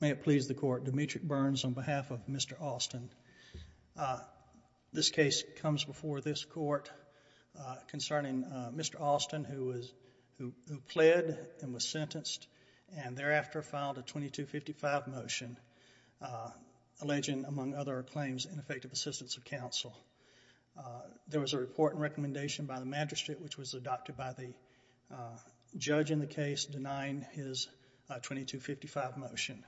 May it please the court, Demetric Burns on behalf of Mr. Alston. This case comes before this court concerning Mr. Alston who pled and was sentenced and thereafter filed a 2255 motion alleging, among other claims, ineffective assistance of counsel. There was a report and recommendation by the magistrate which was adopted by the judge in the case denying his 2255 motion.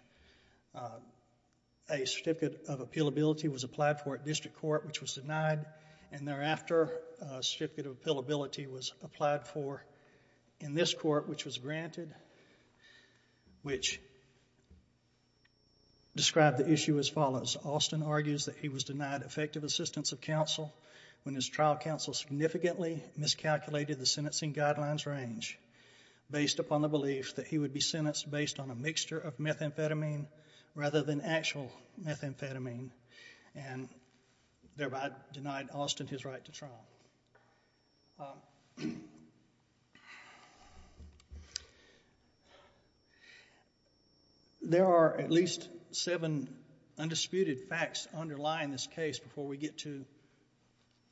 A certificate of appealability was applied for at district court which was denied and thereafter a certificate of appealability was applied for in this court which was granted which described the issue as follows, Alston argues that he was denied effective assistance of counsel when his trial counsel significantly miscalculated the sentencing guidelines range based upon the belief that he would be sentenced based on a mixture of methamphetamine rather than actual methamphetamine and thereby denied Alston his right to trial. There are at least seven undisputed facts underlying this case before we get to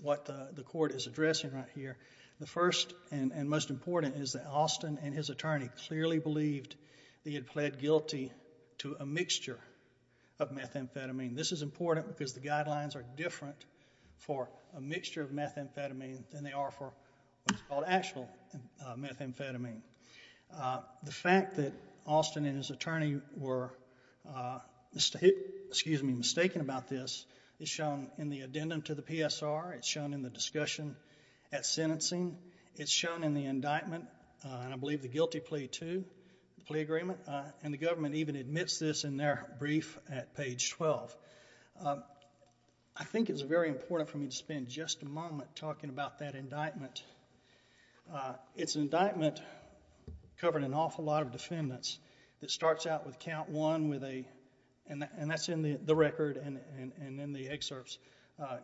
what the court is addressing right here. The first and most important is that Alston and his attorney clearly believed he had pled guilty to a mixture of methamphetamine. This is important because the guidelines are different for a mixture of methamphetamine than they are for what's called actual methamphetamine. The fact that Alston and his attorney were mistaken about this is shown in the addendum to the PSR, it's shown in the discussion at sentencing, it's shown in the indictment and I believe the guilty plea too, the plea agreement, and the government even admits this in their brief at page 12. I think it's very important for me to spend just a moment talking about that indictment. It's an indictment covering an awful lot of defendants that starts out with count one with a, and that's in the record and in the excerpts,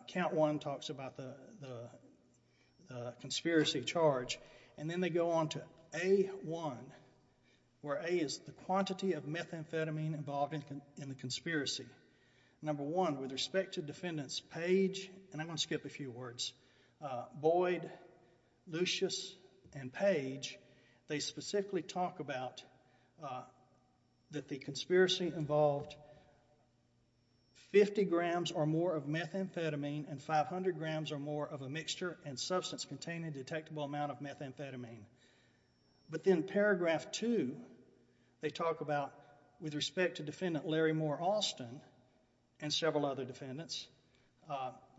count one talks about the conspiracy charge and then they go on to A1, where A is the quantity of methamphetamine involved in the conspiracy. Number one, with respect to defendants Page, and I'm going to skip a few words, Boyd, Lucius and Page, they specifically talk about that the conspiracy involved 50 grams or more of a detectable amount of methamphetamine. But then paragraph two, they talk about with respect to defendant Larry Moore Alston and several other defendants,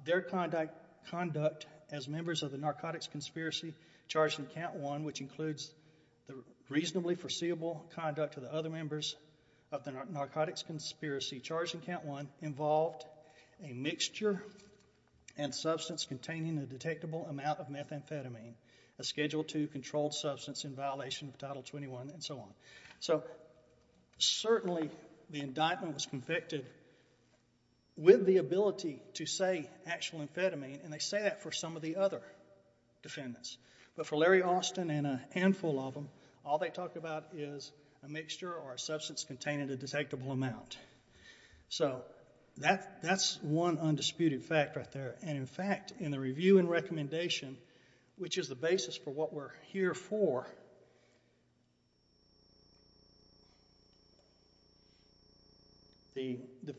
their conduct as members of the narcotics conspiracy charged in count one, which includes the reasonably foreseeable conduct of the other members of the narcotics conspiracy charged in count one involved a mixture and substance containing a detectable amount of methamphetamine, a schedule two controlled substance in violation of title 21 and so on. So certainly the indictment was convicted with the ability to say actual amphetamine and they say that for some of the other defendants, but for Larry Alston and a handful of them, all they talk about is a mixture or a substance containing a detectable amount. So that's one undisputed fact right there. And in fact, in the review and recommendation, which is the basis for what we're here for, the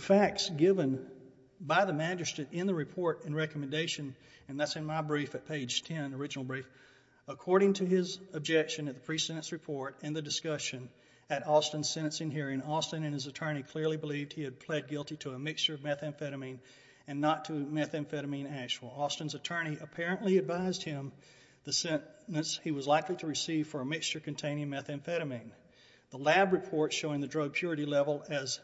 facts given by the magistrate in the report and recommendation, and that's in my brief at page 10, the original brief, according to his objection at the pre-sentence report and the discussion at Alston's sentencing hearing, Alston and his attorney clearly believed he had pled guilty to a mixture of methamphetamine and not to methamphetamine actual. Alston's attorney apparently advised him the sentence he was likely to receive for a mixture containing methamphetamine. The lab report showing the drug purity level as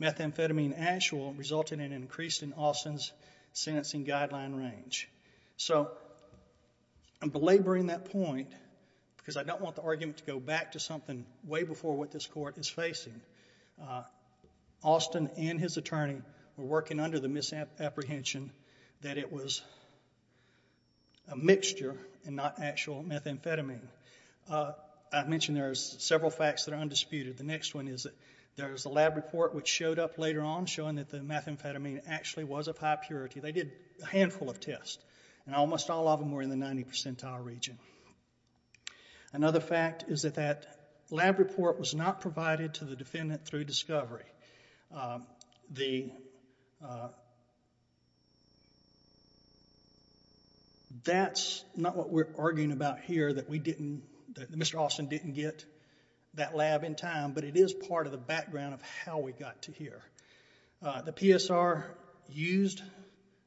methamphetamine actual resulted in an increase in Alston's sentencing guideline range. So I'm belaboring that point because I don't want the argument to go back to something way before what this court is facing. Alston and his attorney were working under the misapprehension that it was a mixture and not actual methamphetamine. I mentioned there's several facts that are undisputed. The next one is that there's a lab report which showed up later on showing that the methamphetamine actually was of high purity. They did a handful of tests and almost all of them were in the 90 percentile region. Another fact is that that lab report was not provided to the defendant through discovery. That's not what we're arguing about here that we didn't, that Mr. Alston didn't get that lab in time, but it is part of the background of how we got to here. The PSR used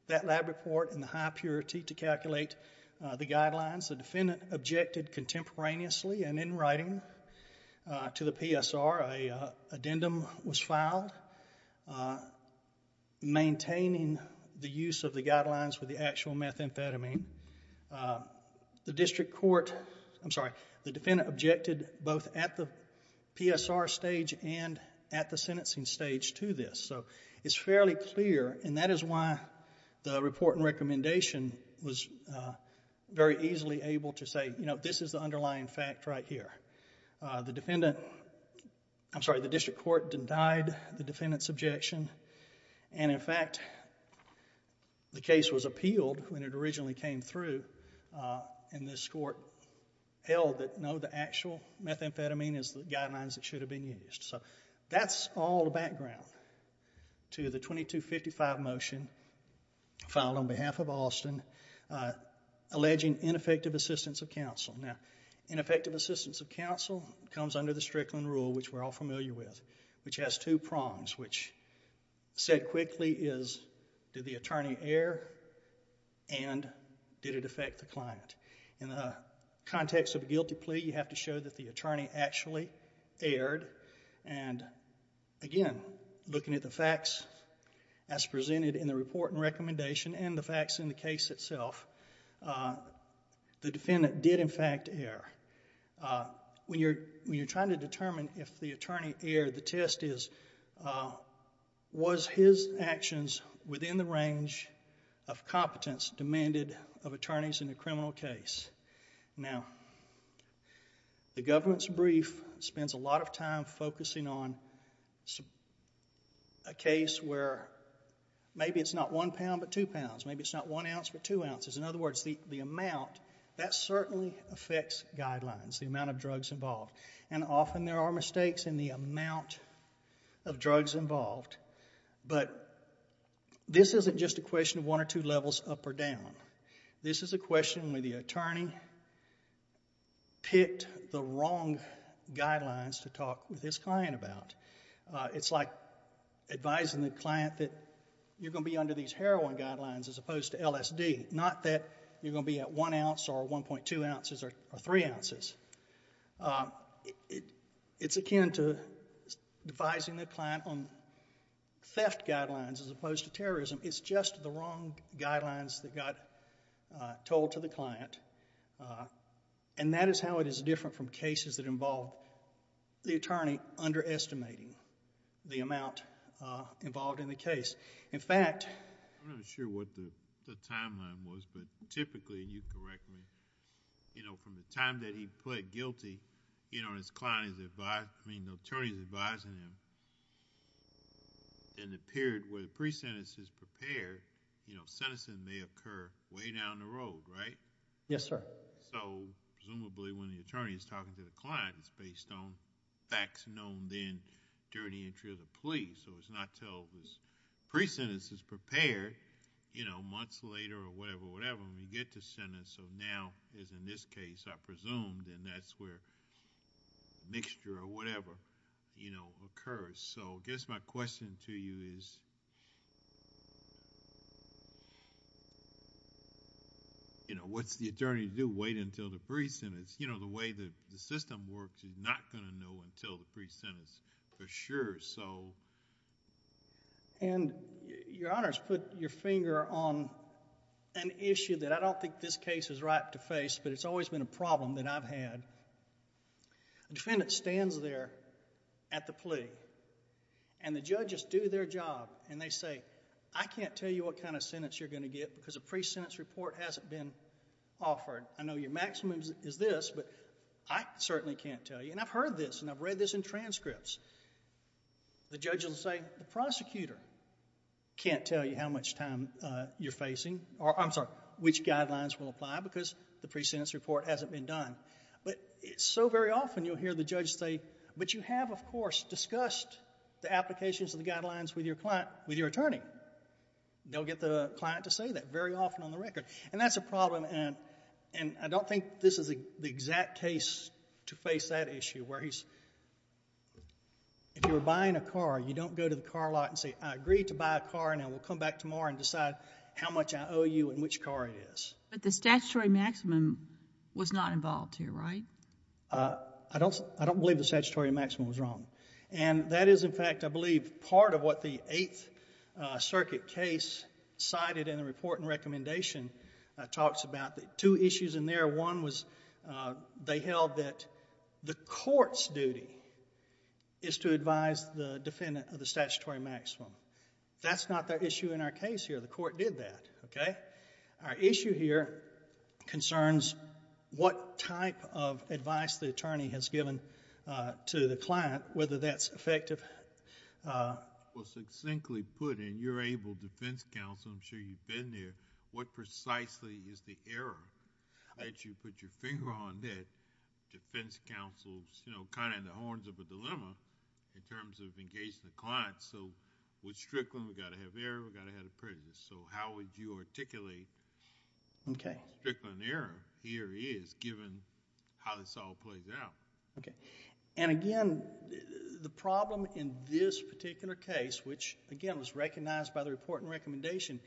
that lab report in the high purity to calculate the guidelines. The defendant objected contemporaneously and in writing to the PSR, an addendum was filed maintaining the use of the guidelines with the actual methamphetamine. The district court, I'm sorry, the defendant objected both at the PSR stage and at the end of this. It's fairly clear and that is why the report and recommendation was very easily able to say this is the underlying fact right here. The defendant, I'm sorry, the district court denied the defendant's objection and in fact the case was appealed when it originally came through and this court held that no, the actual methamphetamine is the guidelines that should have been used. That's all the background to the 2255 motion filed on behalf of Alston alleging ineffective assistance of counsel. Ineffective assistance of counsel comes under the Strickland rule which we're all familiar with which has two prongs which said quickly is did the attorney err and did it affect the client. In the context of a guilty plea, you have to show that the attorney actually erred and again looking at the facts as presented in the report and recommendation and the facts in the case itself, the defendant did in fact err. When you're trying to determine if the attorney erred, the test is was his actions within the range of competence demanded of attorneys in a criminal case. Now the government's brief spends a lot of time focusing on a case where maybe it's not one pound but two pounds, maybe it's not one ounce but two ounces. In other words, the amount that certainly affects guidelines, the amount of drugs involved and often there are mistakes in the amount of drugs involved but this isn't just a question of one or two levels up or down. This is a question where the attorney picked the wrong guidelines to talk with his client about. It's like advising the client that you're going to be under these heroin guidelines as opposed to LSD. Not that you're going to be at one ounce or 1.2 ounces or three ounces. It's akin to advising the client on theft guidelines as opposed to terrorism. It's just the wrong guidelines that got told to the client and that is how it is different from cases that involve the attorney underestimating the amount involved in the case. In fact... I'm not sure what the timeline was but typically, you correct me, from the time that he pled guilty, his client is advised, I mean the attorney is advising him, in the period where the pre-sentence is prepared, sentencing may occur way down the road, right? Yes, sir. Presumably when the attorney is talking to the client, it's based on facts known then during the entry of the plea. So it's not until the pre-sentence is prepared, you know, months later or whatever, when we get to sentence. So now, as in this case, I presumed and that's where mixture or whatever, you know, occurs. So I guess my question to you is, you know, what's the attorney do? Wait until the pre-sentence. You know, the way the system works, he's not going to know until the pre-sentence for sure. So... Your Honor has put your finger on an issue that I don't think this case is ripe to face but it's always been a problem that I've had. A defendant stands there at the plea and the judges do their job and they say, I can't tell you what kind of sentence you're going to get because a pre-sentence report hasn't been offered. I know your maximum is this but I certainly can't tell you and I've heard this and I've read this in transcripts. The judge will say, the prosecutor can't tell you how much time you're facing or, I'm sorry, which guidelines will apply because the pre-sentence report hasn't been done. But so very often you'll hear the judge say, but you have, of course, discussed the applications of the guidelines with your client, with your attorney. They'll get the client to say that very often on the record. That's a problem and I don't think this is the exact case to face that issue where he's, if you were buying a car, you don't go to the car lot and say, I agreed to buy a car and I will come back tomorrow and decide how much I owe you and which car it is. But the statutory maximum was not involved here, right? I don't believe the statutory maximum was wrong. That is, in fact, I believe part of what the Eighth Circuit case cited in the report and it talks about the two issues in there. One was they held that the court's duty is to advise the defendant of the statutory maximum. That's not the issue in our case here, the court did that, okay? Our issue here concerns what type of advice the attorney has given to the client, whether that's effective...... I'm sure you've been there. What precisely is the error that you put your finger on that defense counsel's, you know, kind of in the horns of a dilemma in terms of engaging the client so we're strickling, we got to have error, we got to have the prejudice. So, how would you articulate what a strickling error here is given how this all plays out? Okay. And again, the problem in this particular case, which again was recognized by the report and recommendation,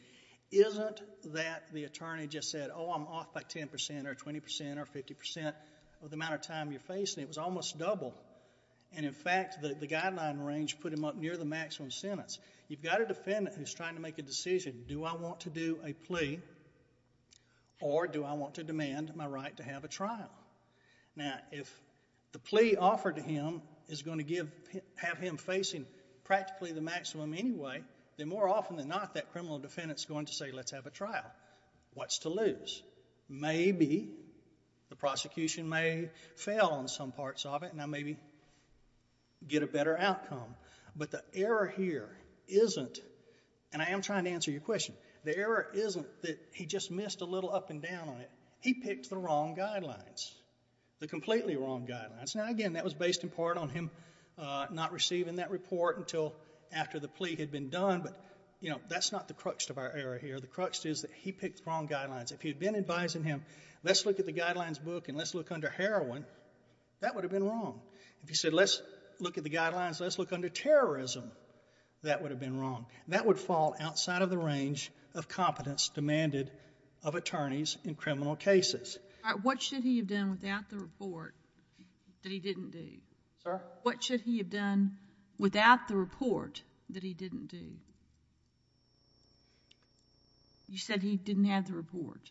isn't that the attorney just said, oh, I'm off by ten percent or twenty percent or fifty percent of the amount of time you're facing. It was almost double. And in fact, the guideline range put him up near the maximum sentence. You've got a defendant who's trying to make a decision. Do I want to do a plea or do I want to demand my right to have a trial? Now, if the plea offered to him is going to give... have him facing practically the maximum anyway, then more often than not that criminal defendant's going to say, let's have a trial. What's to lose? Maybe the prosecution may fail on some parts of it and I maybe get a better outcome. But the error here isn't, and I am trying to answer your question, the error isn't that he just missed a little up and down on it. He picked the wrong guidelines, the completely wrong guidelines. Now, again, that was based in part on him not receiving that report until after the plea had been done, but that's not the crux of our error here. The crux is that he picked the wrong guidelines. If he had been advising him, let's look at the guidelines book and let's look under heroin, that would have been wrong. If he said, let's look at the guidelines, let's look under terrorism, that would have been wrong. That would fall outside of the range of competence demanded of attorneys in criminal cases. What should he have done without the report that he didn't do? What should he have done without the report that he didn't do? You said he didn't have the report.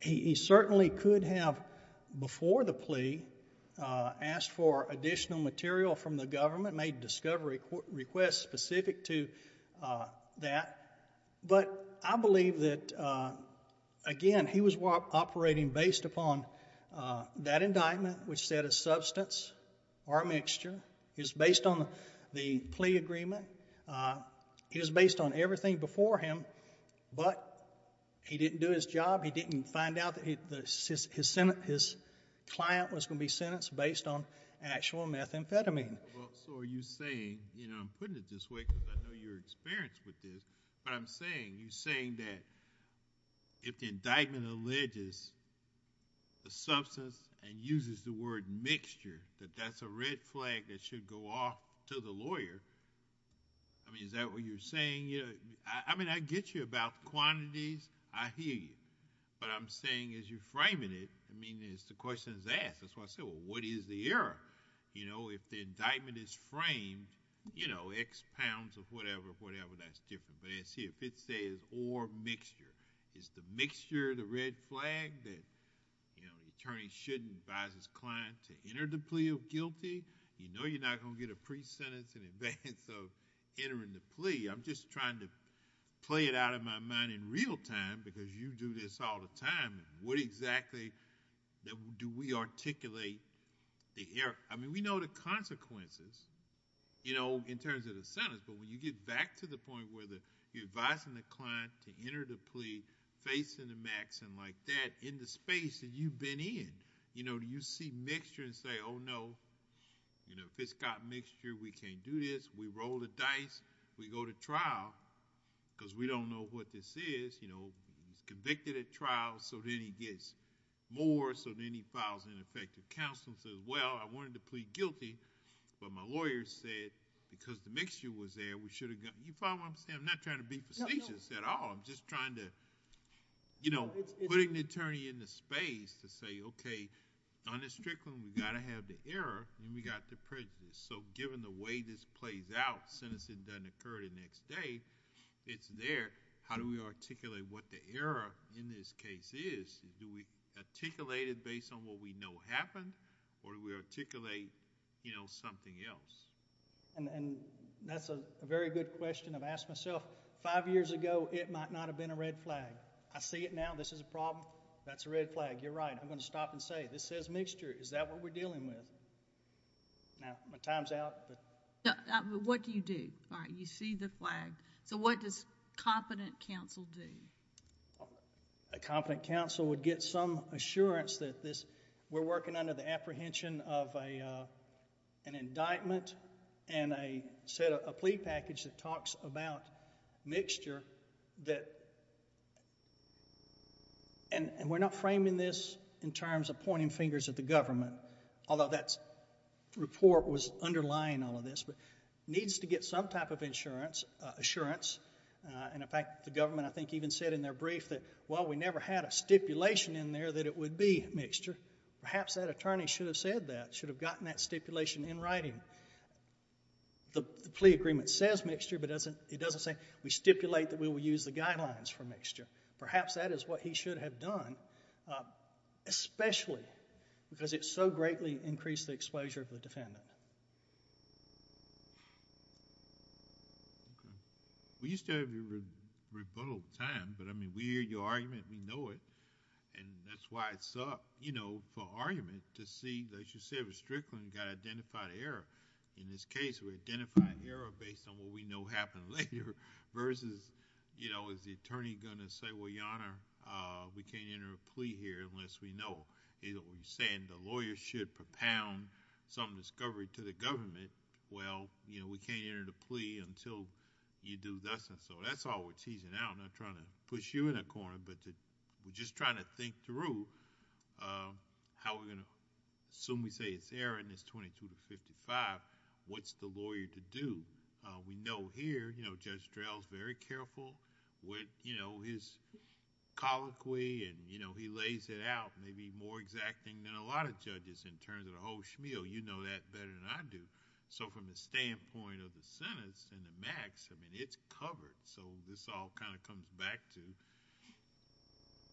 He certainly could have, before the plea, asked for additional material from the government, made discovery requests specific to that, but I believe that, again, he was operating based upon that indictment, which said a substance or a mixture. It was based on the plea agreement. It was based on everything before him, but he didn't do his job. He didn't find out that his client was going to be sentenced based on actual methamphetamine. Are you saying, I'm putting it this way because I know you're experienced with this, but I'm saying, you're saying that if the indictment alleges a substance and uses the word mixture, that that's a red flag that should go off to the lawyer, I mean, is that what you're saying? I get you about quantities, I hear you, but I'm saying as you're framing it, I mean, it's the question is asked. That's why I said, well, what is the error? If the indictment is framed, X pounds of whatever, whatever, that's different, but it's here. If it says, or mixture, is the mixture the red flag that the attorney shouldn't advise his client to enter the plea of guilty, you know you're not going to get a pre-sentence in advance of entering the plea. I'm just trying to play it out of my mind in real time because you do this all the time. What exactly do we articulate the error? We know the consequences in terms of the sentence, but when you get back to the point where you're advising the client to enter the plea facing the max and like that in the space that you've been in, do you see mixture and say, oh no, if it's got mixture, we can't do this, we roll the dice, we go to trial because we don't know what this is, he's convicted at trial, so then he gets more, so then he files ineffective counsel and says, well, I wanted to plead guilty, but my lawyer said, because the mixture was there, we should have... you follow what I'm saying? I'm not trying to be facetious at all. I'm just trying to, you know, putting the attorney in the space to say, okay, on this Strickland, we've got to have the error and we've got the prejudice, so given the way this plays out, sentencing doesn't occur the next day, it's there, how do we articulate what the error in this case is? Do we articulate it based on what we know happened or do we articulate, you know, something else? And that's a very good question. I've asked myself, five years ago, it might not have been a red flag. I see it now, this is a problem, that's a red flag, you're right, I'm going to stop and say, this says mixture, is that what we're dealing with? Now, my time's out, but... What do you do? You see the flag, so what does competent counsel do? A competent counsel would get some assurance that this, we're working under the apprehension of an indictment and a set of, a plea package that talks about mixture that, and we're not framing this in terms of pointing fingers at the government, although that report was a type of assurance, and in fact, the government, I think, even said in their brief that, well, we never had a stipulation in there that it would be mixture, perhaps that attorney should have said that, should have gotten that stipulation in writing. The plea agreement says mixture, but it doesn't say, we stipulate that we will use the guidelines for mixture. Perhaps that is what he should have done, especially because it so greatly increased the exposure of the defendant. Okay. We used to have a rebuttal time, but I mean, we hear your argument, we know it, and that's why it's up, you know, for argument to see, as you said, Restriction got identified error. In this case, we identified error based on what we know happened later versus, you know, is the attorney going to say, well, Your Honor, we can't enter a plea here unless we know. We're saying the lawyer should propound some discovery to the government, well, you know, we can't enter the plea until you do this, and so that's all we're teasing out, not trying to push you in a corner, but we're just trying to think through how we're going to... assume we say it's error and it's 22 to 55, what's the lawyer to do? We know here, you know, Judge Drell is very careful with, you know, his colloquy, and, you know, he lays it out, maybe more exacting than a lot of judges in terms of the whole schmeal, you know that better than I do, so from the standpoint of the sentence and the max, I mean, it's covered, so this all kind of comes back to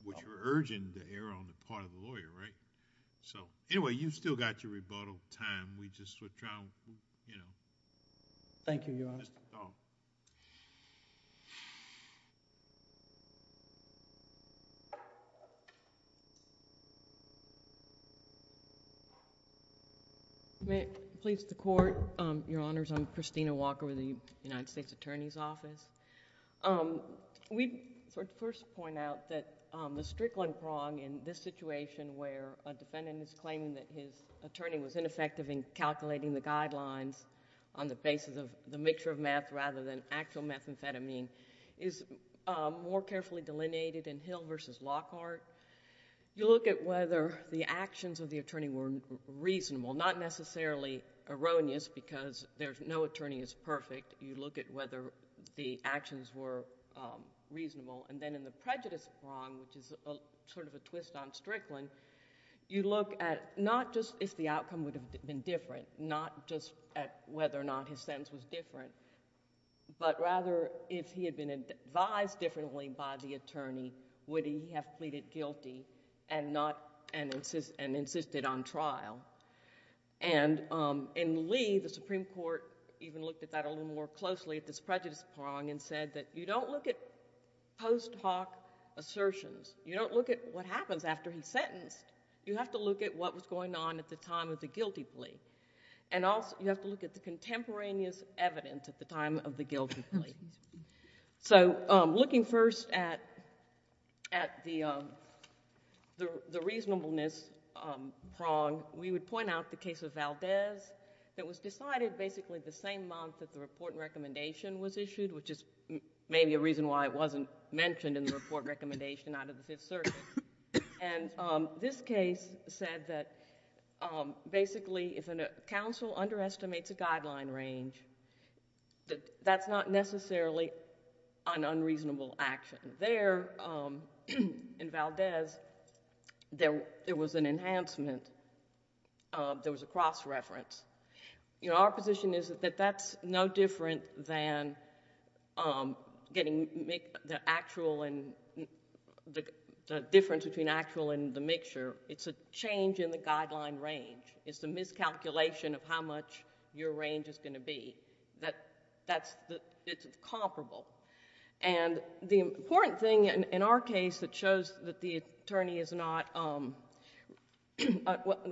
what you're urging, the error on the part of the lawyer, right? So, anyway, you've still got your rebuttal time, we just were trying, you know... Thank you, Your Honor. May it please the Court, Your Honors, I'm Christina Walker with the United States Attorney's Office. We'd first point out that the strickling prong in this situation where a defendant is claiming that his attorney was ineffective in calculating the guidelines on the basis of the mixture of meth rather than actual methamphetamine is more carefully delineated in Hill v. Lockhart. You look at whether the actions of the attorney were reasonable, not necessarily erroneous because no attorney is perfect, you look at whether the actions were reasonable, and then in the prejudice prong, which is sort of a twist on strickling, you look at not just if the outcome would have been different, not just at whether or not his sentence was different, but rather if he had been advised differently by the attorney, would he have pleaded guilty and not... and insisted on trial. And in Lee, the Supreme Court even looked at that a little more closely at this prejudice prong and said that you don't look at post hoc assertions, you don't look at what happens after he's sentenced, you have to look at what was going on at the time of the guilty plea, and also you have to look at the contemporaneous evidence at the time of the guilty plea. So looking first at the reasonableness prong, we would point out the case of Valdez that was decided basically the same month that the report and recommendation was issued, which is maybe a reason why it wasn't mentioned in the report and recommendation out of the Fifth Circuit. And this case said that basically if a counsel underestimates a guideline range, that's not necessarily an unreasonable action. There in Valdez, there was an enhancement, there was a cross reference. You know, our position is that that's no different than getting... the actual and... the difference between actual and the mixture. It's a change in the guideline range. It's a miscalculation of how much your range is going to be. That's... it's comparable. And the important thing in our case that shows that the attorney is not...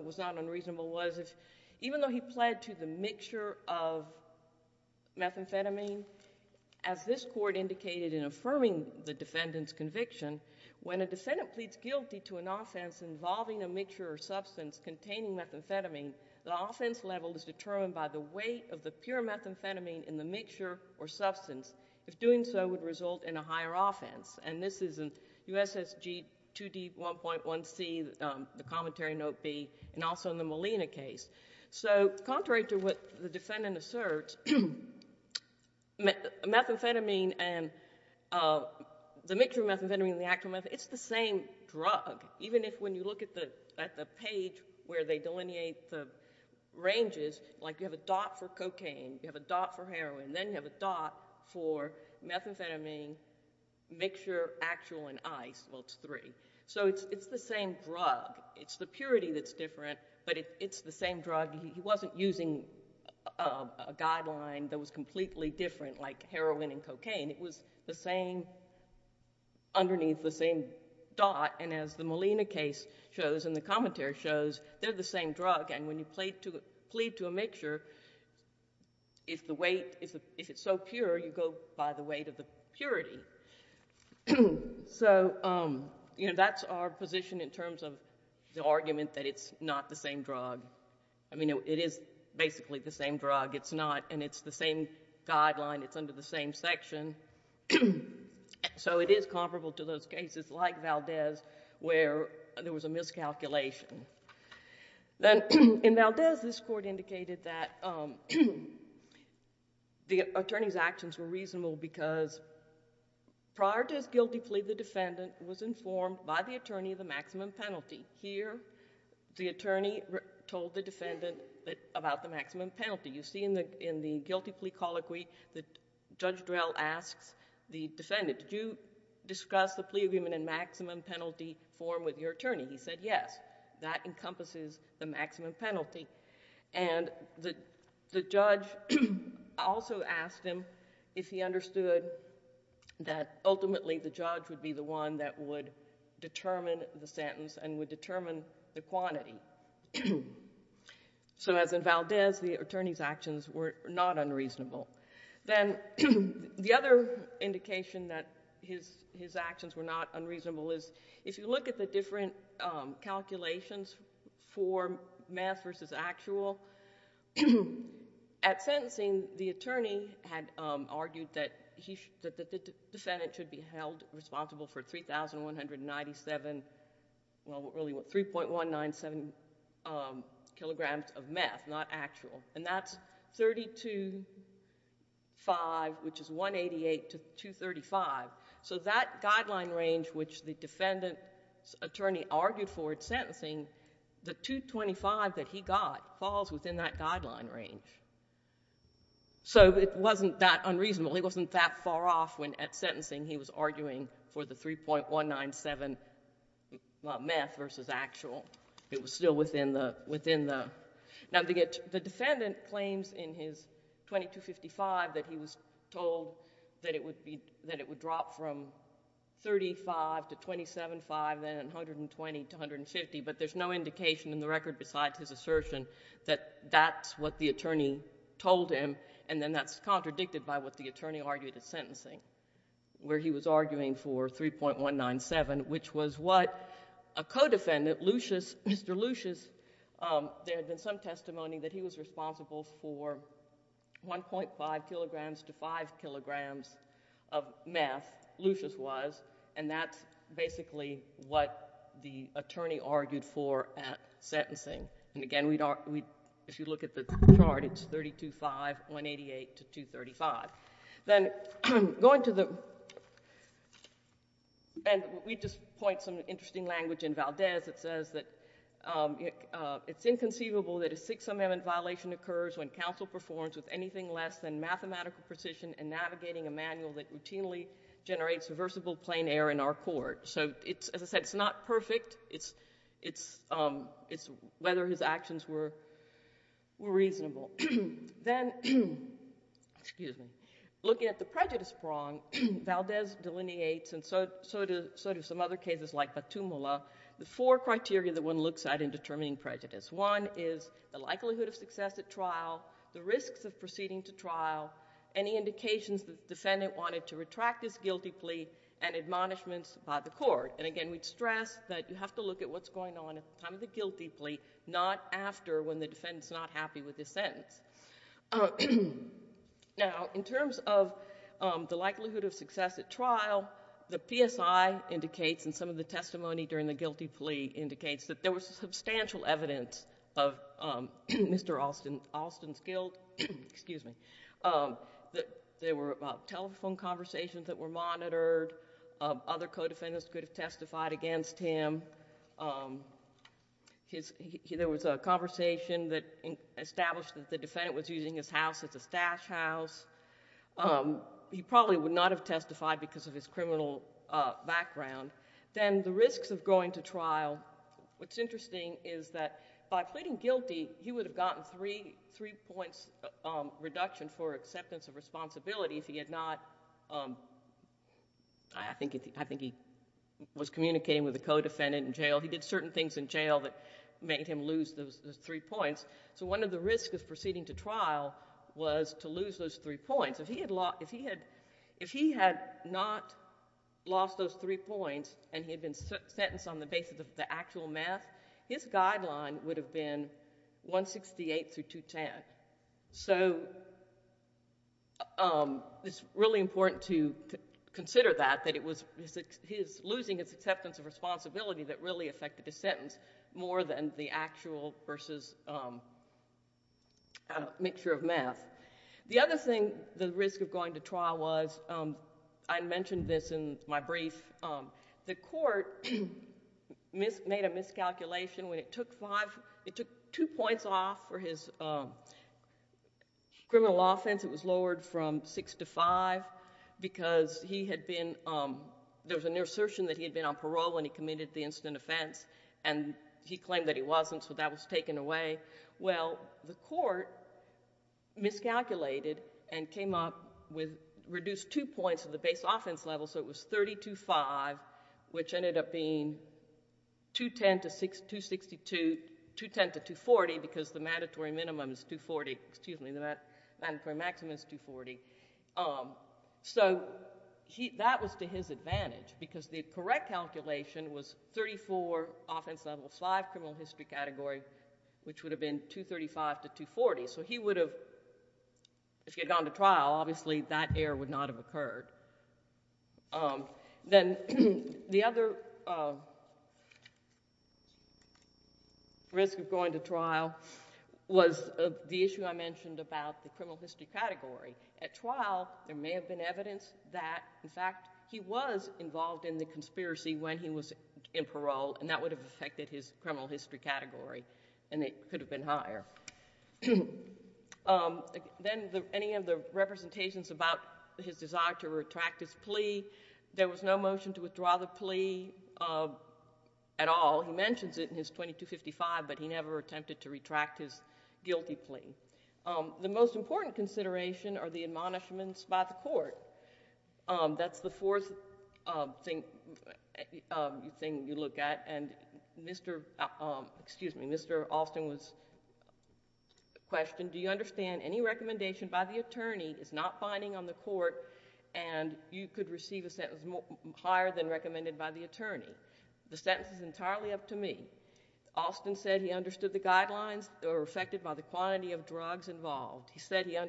was not unreasonable was even though he pled to the mixture of the defendant's conviction, when a defendant pleads guilty to an offense involving a mixture or substance containing methamphetamine, the offense level is determined by the weight of the pure methamphetamine in the mixture or substance. If doing so would result in a higher offense. And this is in USSG 2D 1.1C, the commentary note B, and also in the Molina case. So contrary to what the defendant asserts, methamphetamine and the actual meth... it's the same drug. Even if when you look at the page where they delineate the ranges, like you have a dot for cocaine, you have a dot for heroin, then you have a dot for methamphetamine, mixture, actual, and ice. Well, it's three. So it's the same drug. It's the purity that's different, but it's the same drug. He wasn't using a guideline that was completely different like heroin and cocaine. It was the same... underneath the same dot. And as the Molina case shows and the commentary shows, they're the same drug. And when you plead to a mixture, if the weight... if it's so pure, you go by the weight of the purity. So that's our position in terms of the argument that it's not the same drug. I mean, it is basically the same drug. It's not. And it's the same guideline. It's under the same section. So it is comparable to those cases like Valdez where there was a miscalculation. Then in Valdez, this court indicated that the attorney's actions were reasonable because prior to his guilty plea, the defendant was informed by the attorney of the maximum penalty. Here, the attorney told the defendant about the maximum penalty. You see in the guilty plea colloquy that Judge Drell asks the defendant, did you discuss the plea agreement in maximum penalty form with your attorney? He said, yes. That encompasses the maximum penalty. And the judge also asked him if he understood that ultimately the judge would be the one that would determine the sentence and would determine the quantity. So as in Valdez, the attorney's actions were not unreasonable. Then the other indication that his actions were not unreasonable is if you look at the different calculations for mass versus actual, at sentencing, the attorney had argued that the defendant should be held liable for 297, well, really 3.197 kilograms of meth, not actual. And that's 325, which is 188 to 235. So that guideline range which the defendant's attorney argued for at sentencing, the 225 that he got falls within that guideline range. So it wasn't that unreasonable. He wasn't that far off when at sentencing he was arguing for the 3.197 meth versus actual. It was still within the... Now, the defendant claims in his 2255 that he was told that it would drop from 35 to 27.5, then 120 to 150, but there's no indication in the record besides his assertion that that's what the attorney told him and then that's contradicted by what the attorney argued at sentencing where he was arguing for 3.197, which was what a co-defendant, Lucius, Mr. Lucius, there had been some testimony that he was responsible for 1.5 kilograms to 5 kilograms of meth, Lucius was, and that's basically what the attorney argued for at sentencing. And again, if you look at the chart, it's 325, 188 to 235. Then going to the... And we just point some interesting language in Valdez that says that it's inconceivable that a Sixth Amendment violation occurs when counsel performs with anything less than mathematical precision in navigating a manual that routinely generates reversible plain error in our court. So, as I said, it's not perfect. It's whether his actions were reasonable. Then, looking at the prejudice prong, Valdez delineates, and so do some other cases like Batumula, the four criteria that one looks at in determining prejudice. One is the likelihood of success at trial, the risks of proceeding to trial, any indications that the defendant wanted to retract his guilty plea, and admonishments by the court. And again, we stress that you have to look at what's going on at the time of the guilty plea, not after when the defendant is not happy with his sentence. Now, in terms of the likelihood of success at trial, the PSI indicates, and some of the testimony during the guilty plea indicates, that there was substantial evidence of Mr. Alston's guilt. There were telephone conversations that were monitored. Other co-defendants could have testified against him. There was a conversation that established that the defendant was using his house as a stash house. He probably would not have testified because of his criminal background. Then, the risks of going to trial. What's interesting is that by pleading guilty, he would have gotten three points reduction for acceptance of responsibility if he had not I think he was communicating with a co-defendant in jail. He did certain things in jail that made him lose those three points. So, one of the risks of proceeding to trial was to lose those three points. If he had not lost those three points, and he had been sentenced on the basis of the actual math, his guideline would have been 168 through 210. So, it's really important to consider that. That it was his losing his acceptance of responsibility that really affected his sentence more than the actual versus mixture of math. The other thing, the risk of going to trial was, I mentioned this in my brief, the court made a miscalculation when it took five, it took two points. Criminal law offense, it was lowered from six to five because there was an assertion that he had been on parole when he committed the incident offense, and he claimed that he wasn't, so that was taken away. Well, the court miscalculated and came up with reduced two points of the base offense level, so it was 30 to five, which ended up being 210 to 240 because the mandatory maximum is 240. So, that was to his advantage because the correct calculation was 34 offense level, five criminal history category, which would have been 235 to 240, so he would have, if he had gone to trial, obviously that error would not have occurred. Then, the other risk of going to trial was the issue I mentioned about the criminal history category. At trial, there may have been evidence that, in fact, he was involved in the conspiracy when he was in parole, and that would have affected his criminal history category, and it could have been higher. Then, any of the representations about his desire to retract his plea, there was no motion to withdraw the plea at all. He mentions it in his 2255, but he never attempted to retract his guilty plea. The most important consideration are the admonishments by the court. That's the fourth thing you look at, and Mr. Alston was, excuse me, question, do you understand any recommendation by the attorney is not binding on the court, and you could receive a sentence higher than recommended by the attorney? The sentence is entirely up to me. Alston said he understood the guidelines that were affected by the quantity of drugs involved. He said he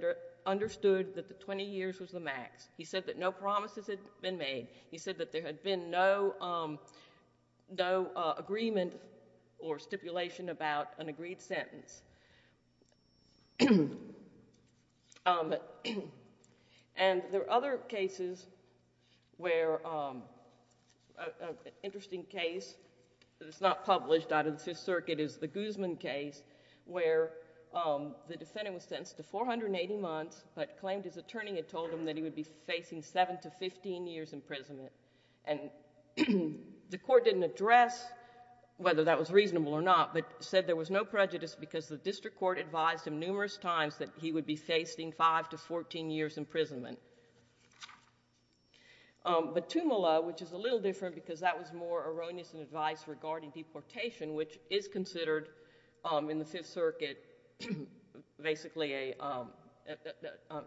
understood that the 20 years was the max. He said that no promises had been made. He said that there had been no agreement or stipulation about an agreed sentence. There are other cases where, an interesting case that is not published out of the Fifth Circuit is the Guzman case, where the defendant was sentenced to 480 months, but claimed his attorney had told him that he would be facing seven to 15 years imprisonment. The court didn't address whether that was reasonable or not, but said there was no prejudice because the district court advised him numerous times that he would be facing five to 14 years imprisonment. But Tumala, which is a little different because that was more erroneous in advice regarding deportation, which is considered in the Fifth Circuit basically a,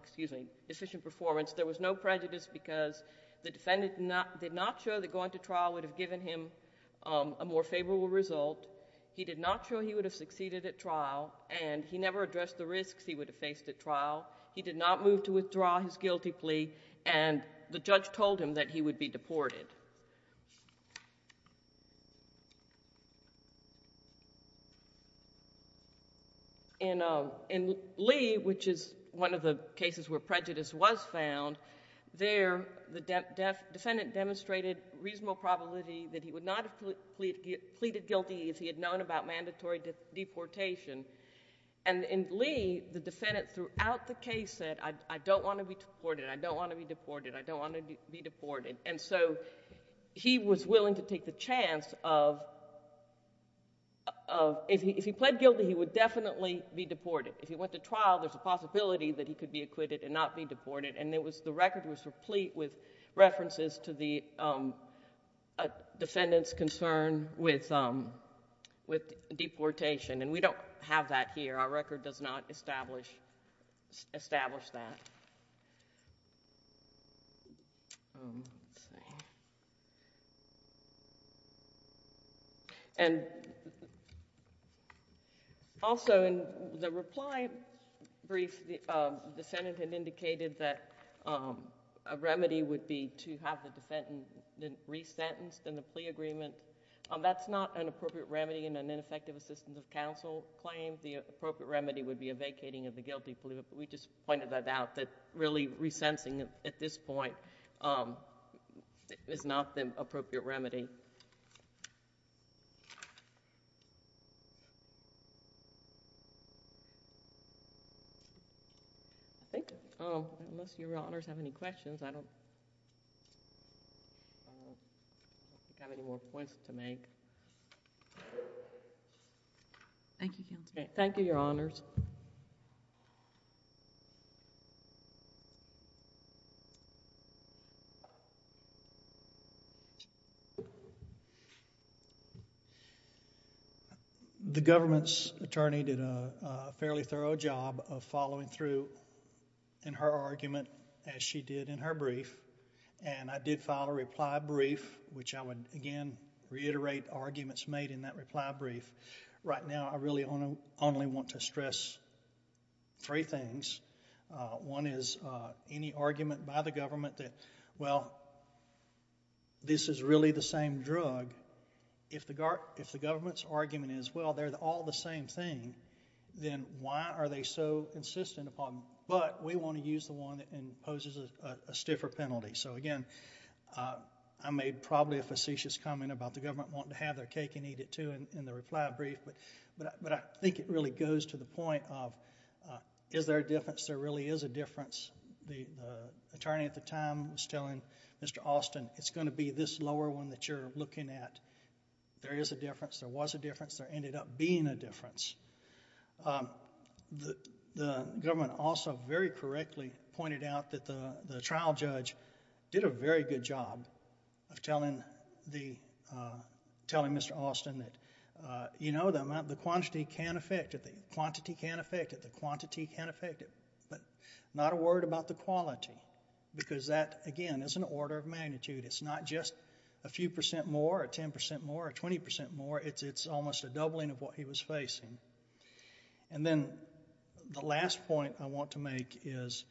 excuse me, efficient performance, there was no prejudice because the defendant did not show that going to trial would have given him a more favorable result. He did not show he would have succeeded at trial, and he never addressed the risks he would have faced at trial. He did not move to withdraw his guilty plea, and the judge told him that he would be deported. In Lee, which is one of the cases where prejudice was found, there the defendant demonstrated reasonable probability that he would not have pleaded guilty if he had known about mandatory deportation. In Lee, the defendant throughout the case said, I don't want to be deported, I don't want to be deported, I don't want to be deported. He was willing to take the chance of... if he pled guilty, he would definitely be deported. If he went to trial, there's a possibility that he could be acquitted and not be deported, and the record was replete with references to the defendant's concern with deportation, and we don't have that here. Our record does not establish that. Also, in the reply brief, the Senate had indicated that a remedy would be to have the defendant re-sentenced in the plea agreement. That's not an appropriate remedy in an ineffective assistance of counsel claim. The appropriate remedy would be a vacating of the guilty plea, but we just pointed that out, that really re-sentencing at this point is not the appropriate remedy. I think, unless Your Honors have any questions, I don't... I don't think I have any more points to make. Thank you, Counselor. Thank you, Your Honors. The government's attorney did a fairly thorough job of following through in her brief, and I did file a reply brief, which I would, again, reiterate arguments made in that reply brief. Right now, I really only want to stress three things. One is, any argument by the government that, well, this is really the same drug, if the government's argument is, well, they're all the same thing, then why are they so insistent upon... but we want to use the one that imposes a stiffer penalty, so again, I made probably a facetious comment about the government wanting to have their cake and eat it, too, in the reply brief, but I think it really goes to the point of, is there a difference? There really is a difference. The attorney at the time was telling Mr. Austin, it's going to be this lower one that you're looking at. There is a difference. There was a difference. There ended up being a difference. The government also very correctly pointed out that the trial judge did a very good job of telling Mr. Austin that, you know, the quantity can affect it, the quantity can affect it, the quantity can affect it, but not a word about the quality because that, again, is an order of magnitude. It's not just a few percent more, a ten percent more, a twenty percent more. It's almost a doubling of what he was facing. Then the last point I want to make is,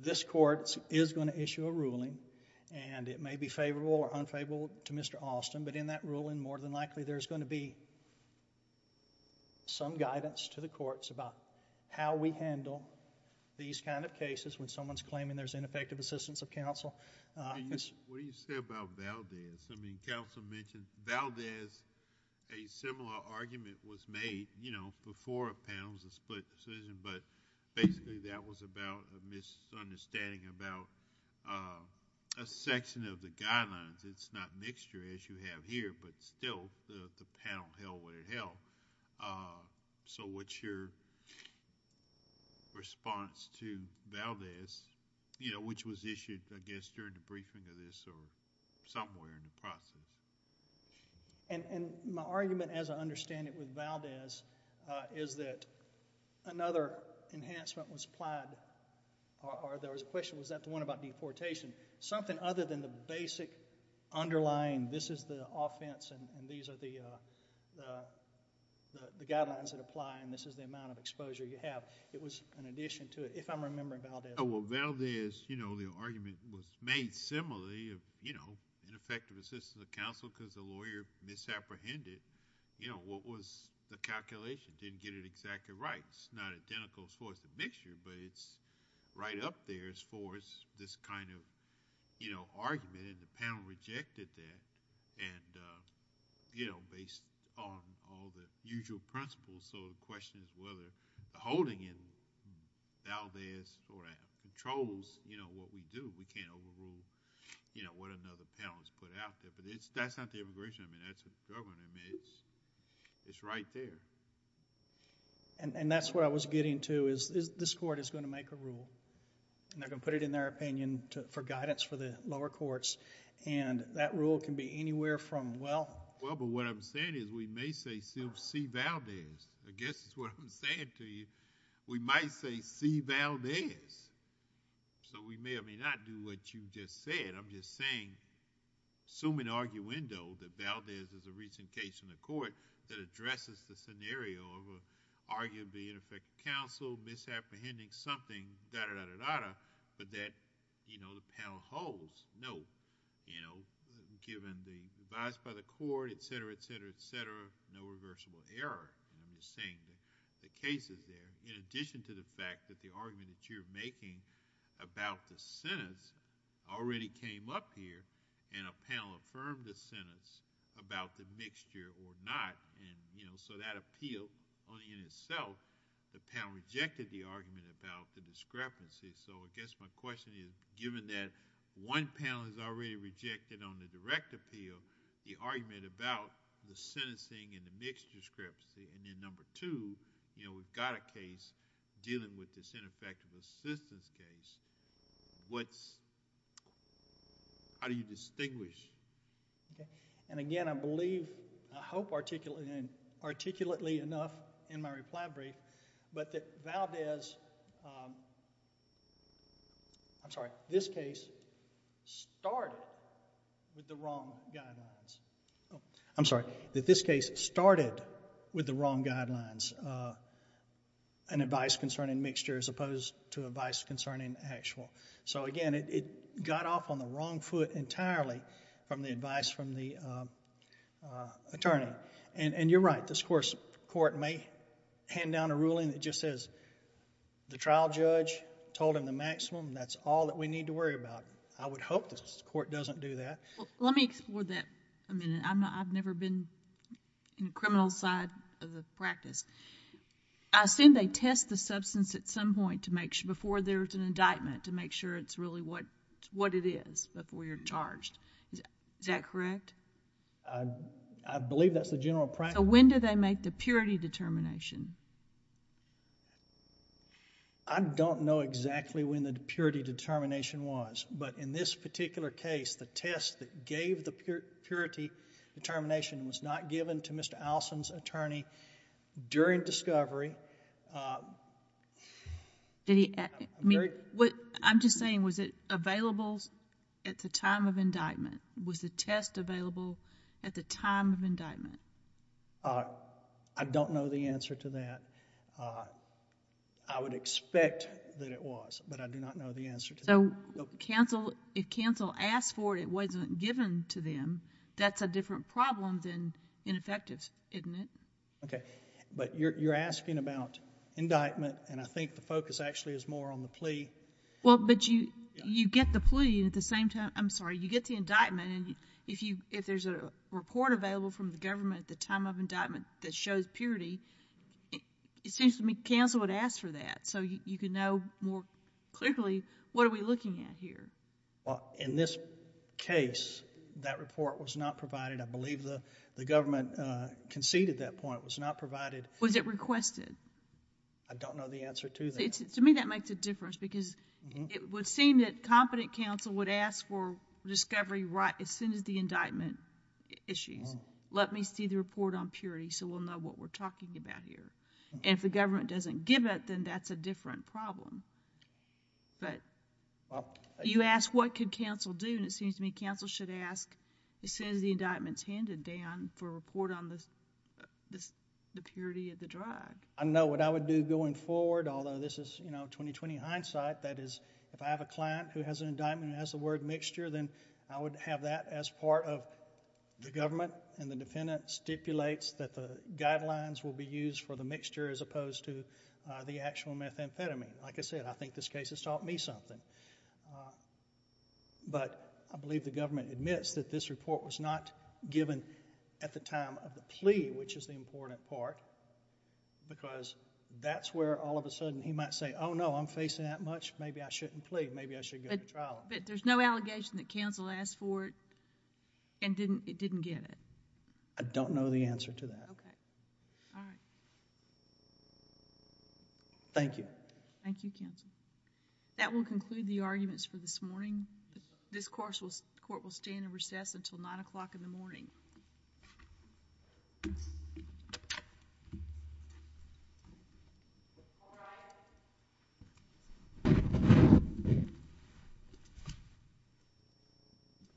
this court is going to issue a ruling and it may be favorable or unfavorable to Mr. Austin, but in that ruling more than likely there's going to be some guidance to the courts about how we handle these kind of cases when someone's claiming there's ineffective assistance of counsel. What do you say about Valdez? I mean, counsel mentioned Valdez. A similar argument was made, you know, before a panel's a split decision, but basically that was about a misunderstanding about a section of the guidelines. It's not mixture as you have here, but still the panel held what it held. So, what's your response to Valdez, you know, which was issued, I guess, during the briefing of this or somewhere in the process? And my argument as I understand it with Valdez is that another enhancement was applied, or there was a question, was that the one about deportation? Something other than the basic underlying, this is the offense and these are the guidelines that apply and this is the amount of exposure you have. It was an addition to it, if I'm remembering Valdez. Oh, well, Valdez, you know, the argument was made similarly of, you know, ineffective assistance of counsel because the lawyer misapprehended, you know, what was the calculation, didn't get it exactly right. It's not identical as far as the mixture, but it's right up there as far as this kind of, you know, argument and the panel rejected that and, you know, based on all the usual principles. So, the question is whether the holding in Valdez sort of controls, you know, what we do. We can't overrule, you know, what another panel has put out there, but that's not the immigration, I mean, that's the government, I mean, it's right there. And that's what I was getting to is this court is going to make a rule and they're going to put it in their opinion for guidance for the lower courts and that rule can be anywhere from, well... Well, but what I'm saying is we may say see Valdez. I guess that's what I'm saying to you. We might say see Valdez. So, we may or may not do what you just said. I'm just saying, assuming arguendo that Valdez is a recent case in the court that addresses the scenario of arguably ineffective counsel misapprehending something, da-da-da-da-da, but that, you know, the panel holds. No. You know, given the advice by the court, et cetera, et cetera, et cetera, no reversible error. I'm just saying the case is there, in addition to the fact that the argument that you're making about the sentence already came up here and a panel affirmed the sentence about the mixture or not, and, you know, so that appeal only in itself, the panel rejected the argument about the discrepancy. So, I guess my question is, given that one panel has already rejected on the direct appeal, the argument about the sentencing and the mixed discrepancy, and then number two, you know, we've got a case dealing with this ineffective assistance case, what's... how do you distinguish? Okay. Again, I believe, I hope articulately enough in my reply brief, but that Valdez... I'm sorry, this case started with the wrong guidelines. I'm sorry, that this case started with the wrong guidelines, an advice concerning mixture as opposed to advice concerning actual. So again, it got off on the wrong foot entirely from the advice from the attorney, and you're right, this court may hand down a ruling that just says, the trial judge told him the maximum, that's all that we need to worry about. I would hope this court doesn't do that. Well, let me explore that a minute. I've never been in the criminal side of the practice. I assume they test the substance at some point to make sure, before there's an indictment, to make sure it's really what it is before you're charged. Is that correct? I believe that's the general practice. When do they make the purity determination? I don't know exactly when the purity determination was, but in this particular case, the test that gave the purity determination was not given to Mr. Allison's attorney during discovery. I'm just saying, was it available at the time of indictment? Was the test available at the time of indictment? I don't know the answer to that. I would expect that it was, but I do not know the answer to that. If counsel asked for it, it wasn't given to them, that's a different problem than ineffective, isn't it? Okay, but you're asking about indictment, and I think the focus actually is more on the plea. Well, but you get the plea at the same time... I'm sorry. You get the indictment, and if there's a report available from the government at the time of indictment that shows purity, it seems to me counsel would ask for that, so you could know more clearly, what are we looking at here? In this case, that report was not provided. I believe the government conceded that point. It was not provided. Was it requested? I don't know the answer to that. To me, that makes a difference, because it would seem that competent counsel would ask for discovery right as soon as the indictment issues. Let me see the report on purity, so we'll know what we're talking about here. If the government doesn't give it, then that's a different problem. You ask what could counsel do, and it seems to me counsel should ask as soon as the indictment's handed down for a report on the purity of the drug. I know what I would do going forward, although this is 20-20 hindsight. That is, if I have a client who has an indictment and has the word mixture, then I would have that as part of the government, and the defendant stipulates that the guidelines will be used for the mixture as opposed to the actual methamphetamine. Like I said, I think this case has taught me something, but I believe the government admits that this report was not given at the time of the plea, which is the important part, because that's where all of a sudden he might say, oh, no, I'm facing that much, maybe I shouldn't plead, maybe I should go to trial. But there's no allegation that counsel asked for it and it didn't get it? I don't know the answer to that. Okay. All right. Thank you. Thank you, counsel. That will conclude the arguments for this morning. This court will stand in recess until 9 o'clock in the morning. Thank you.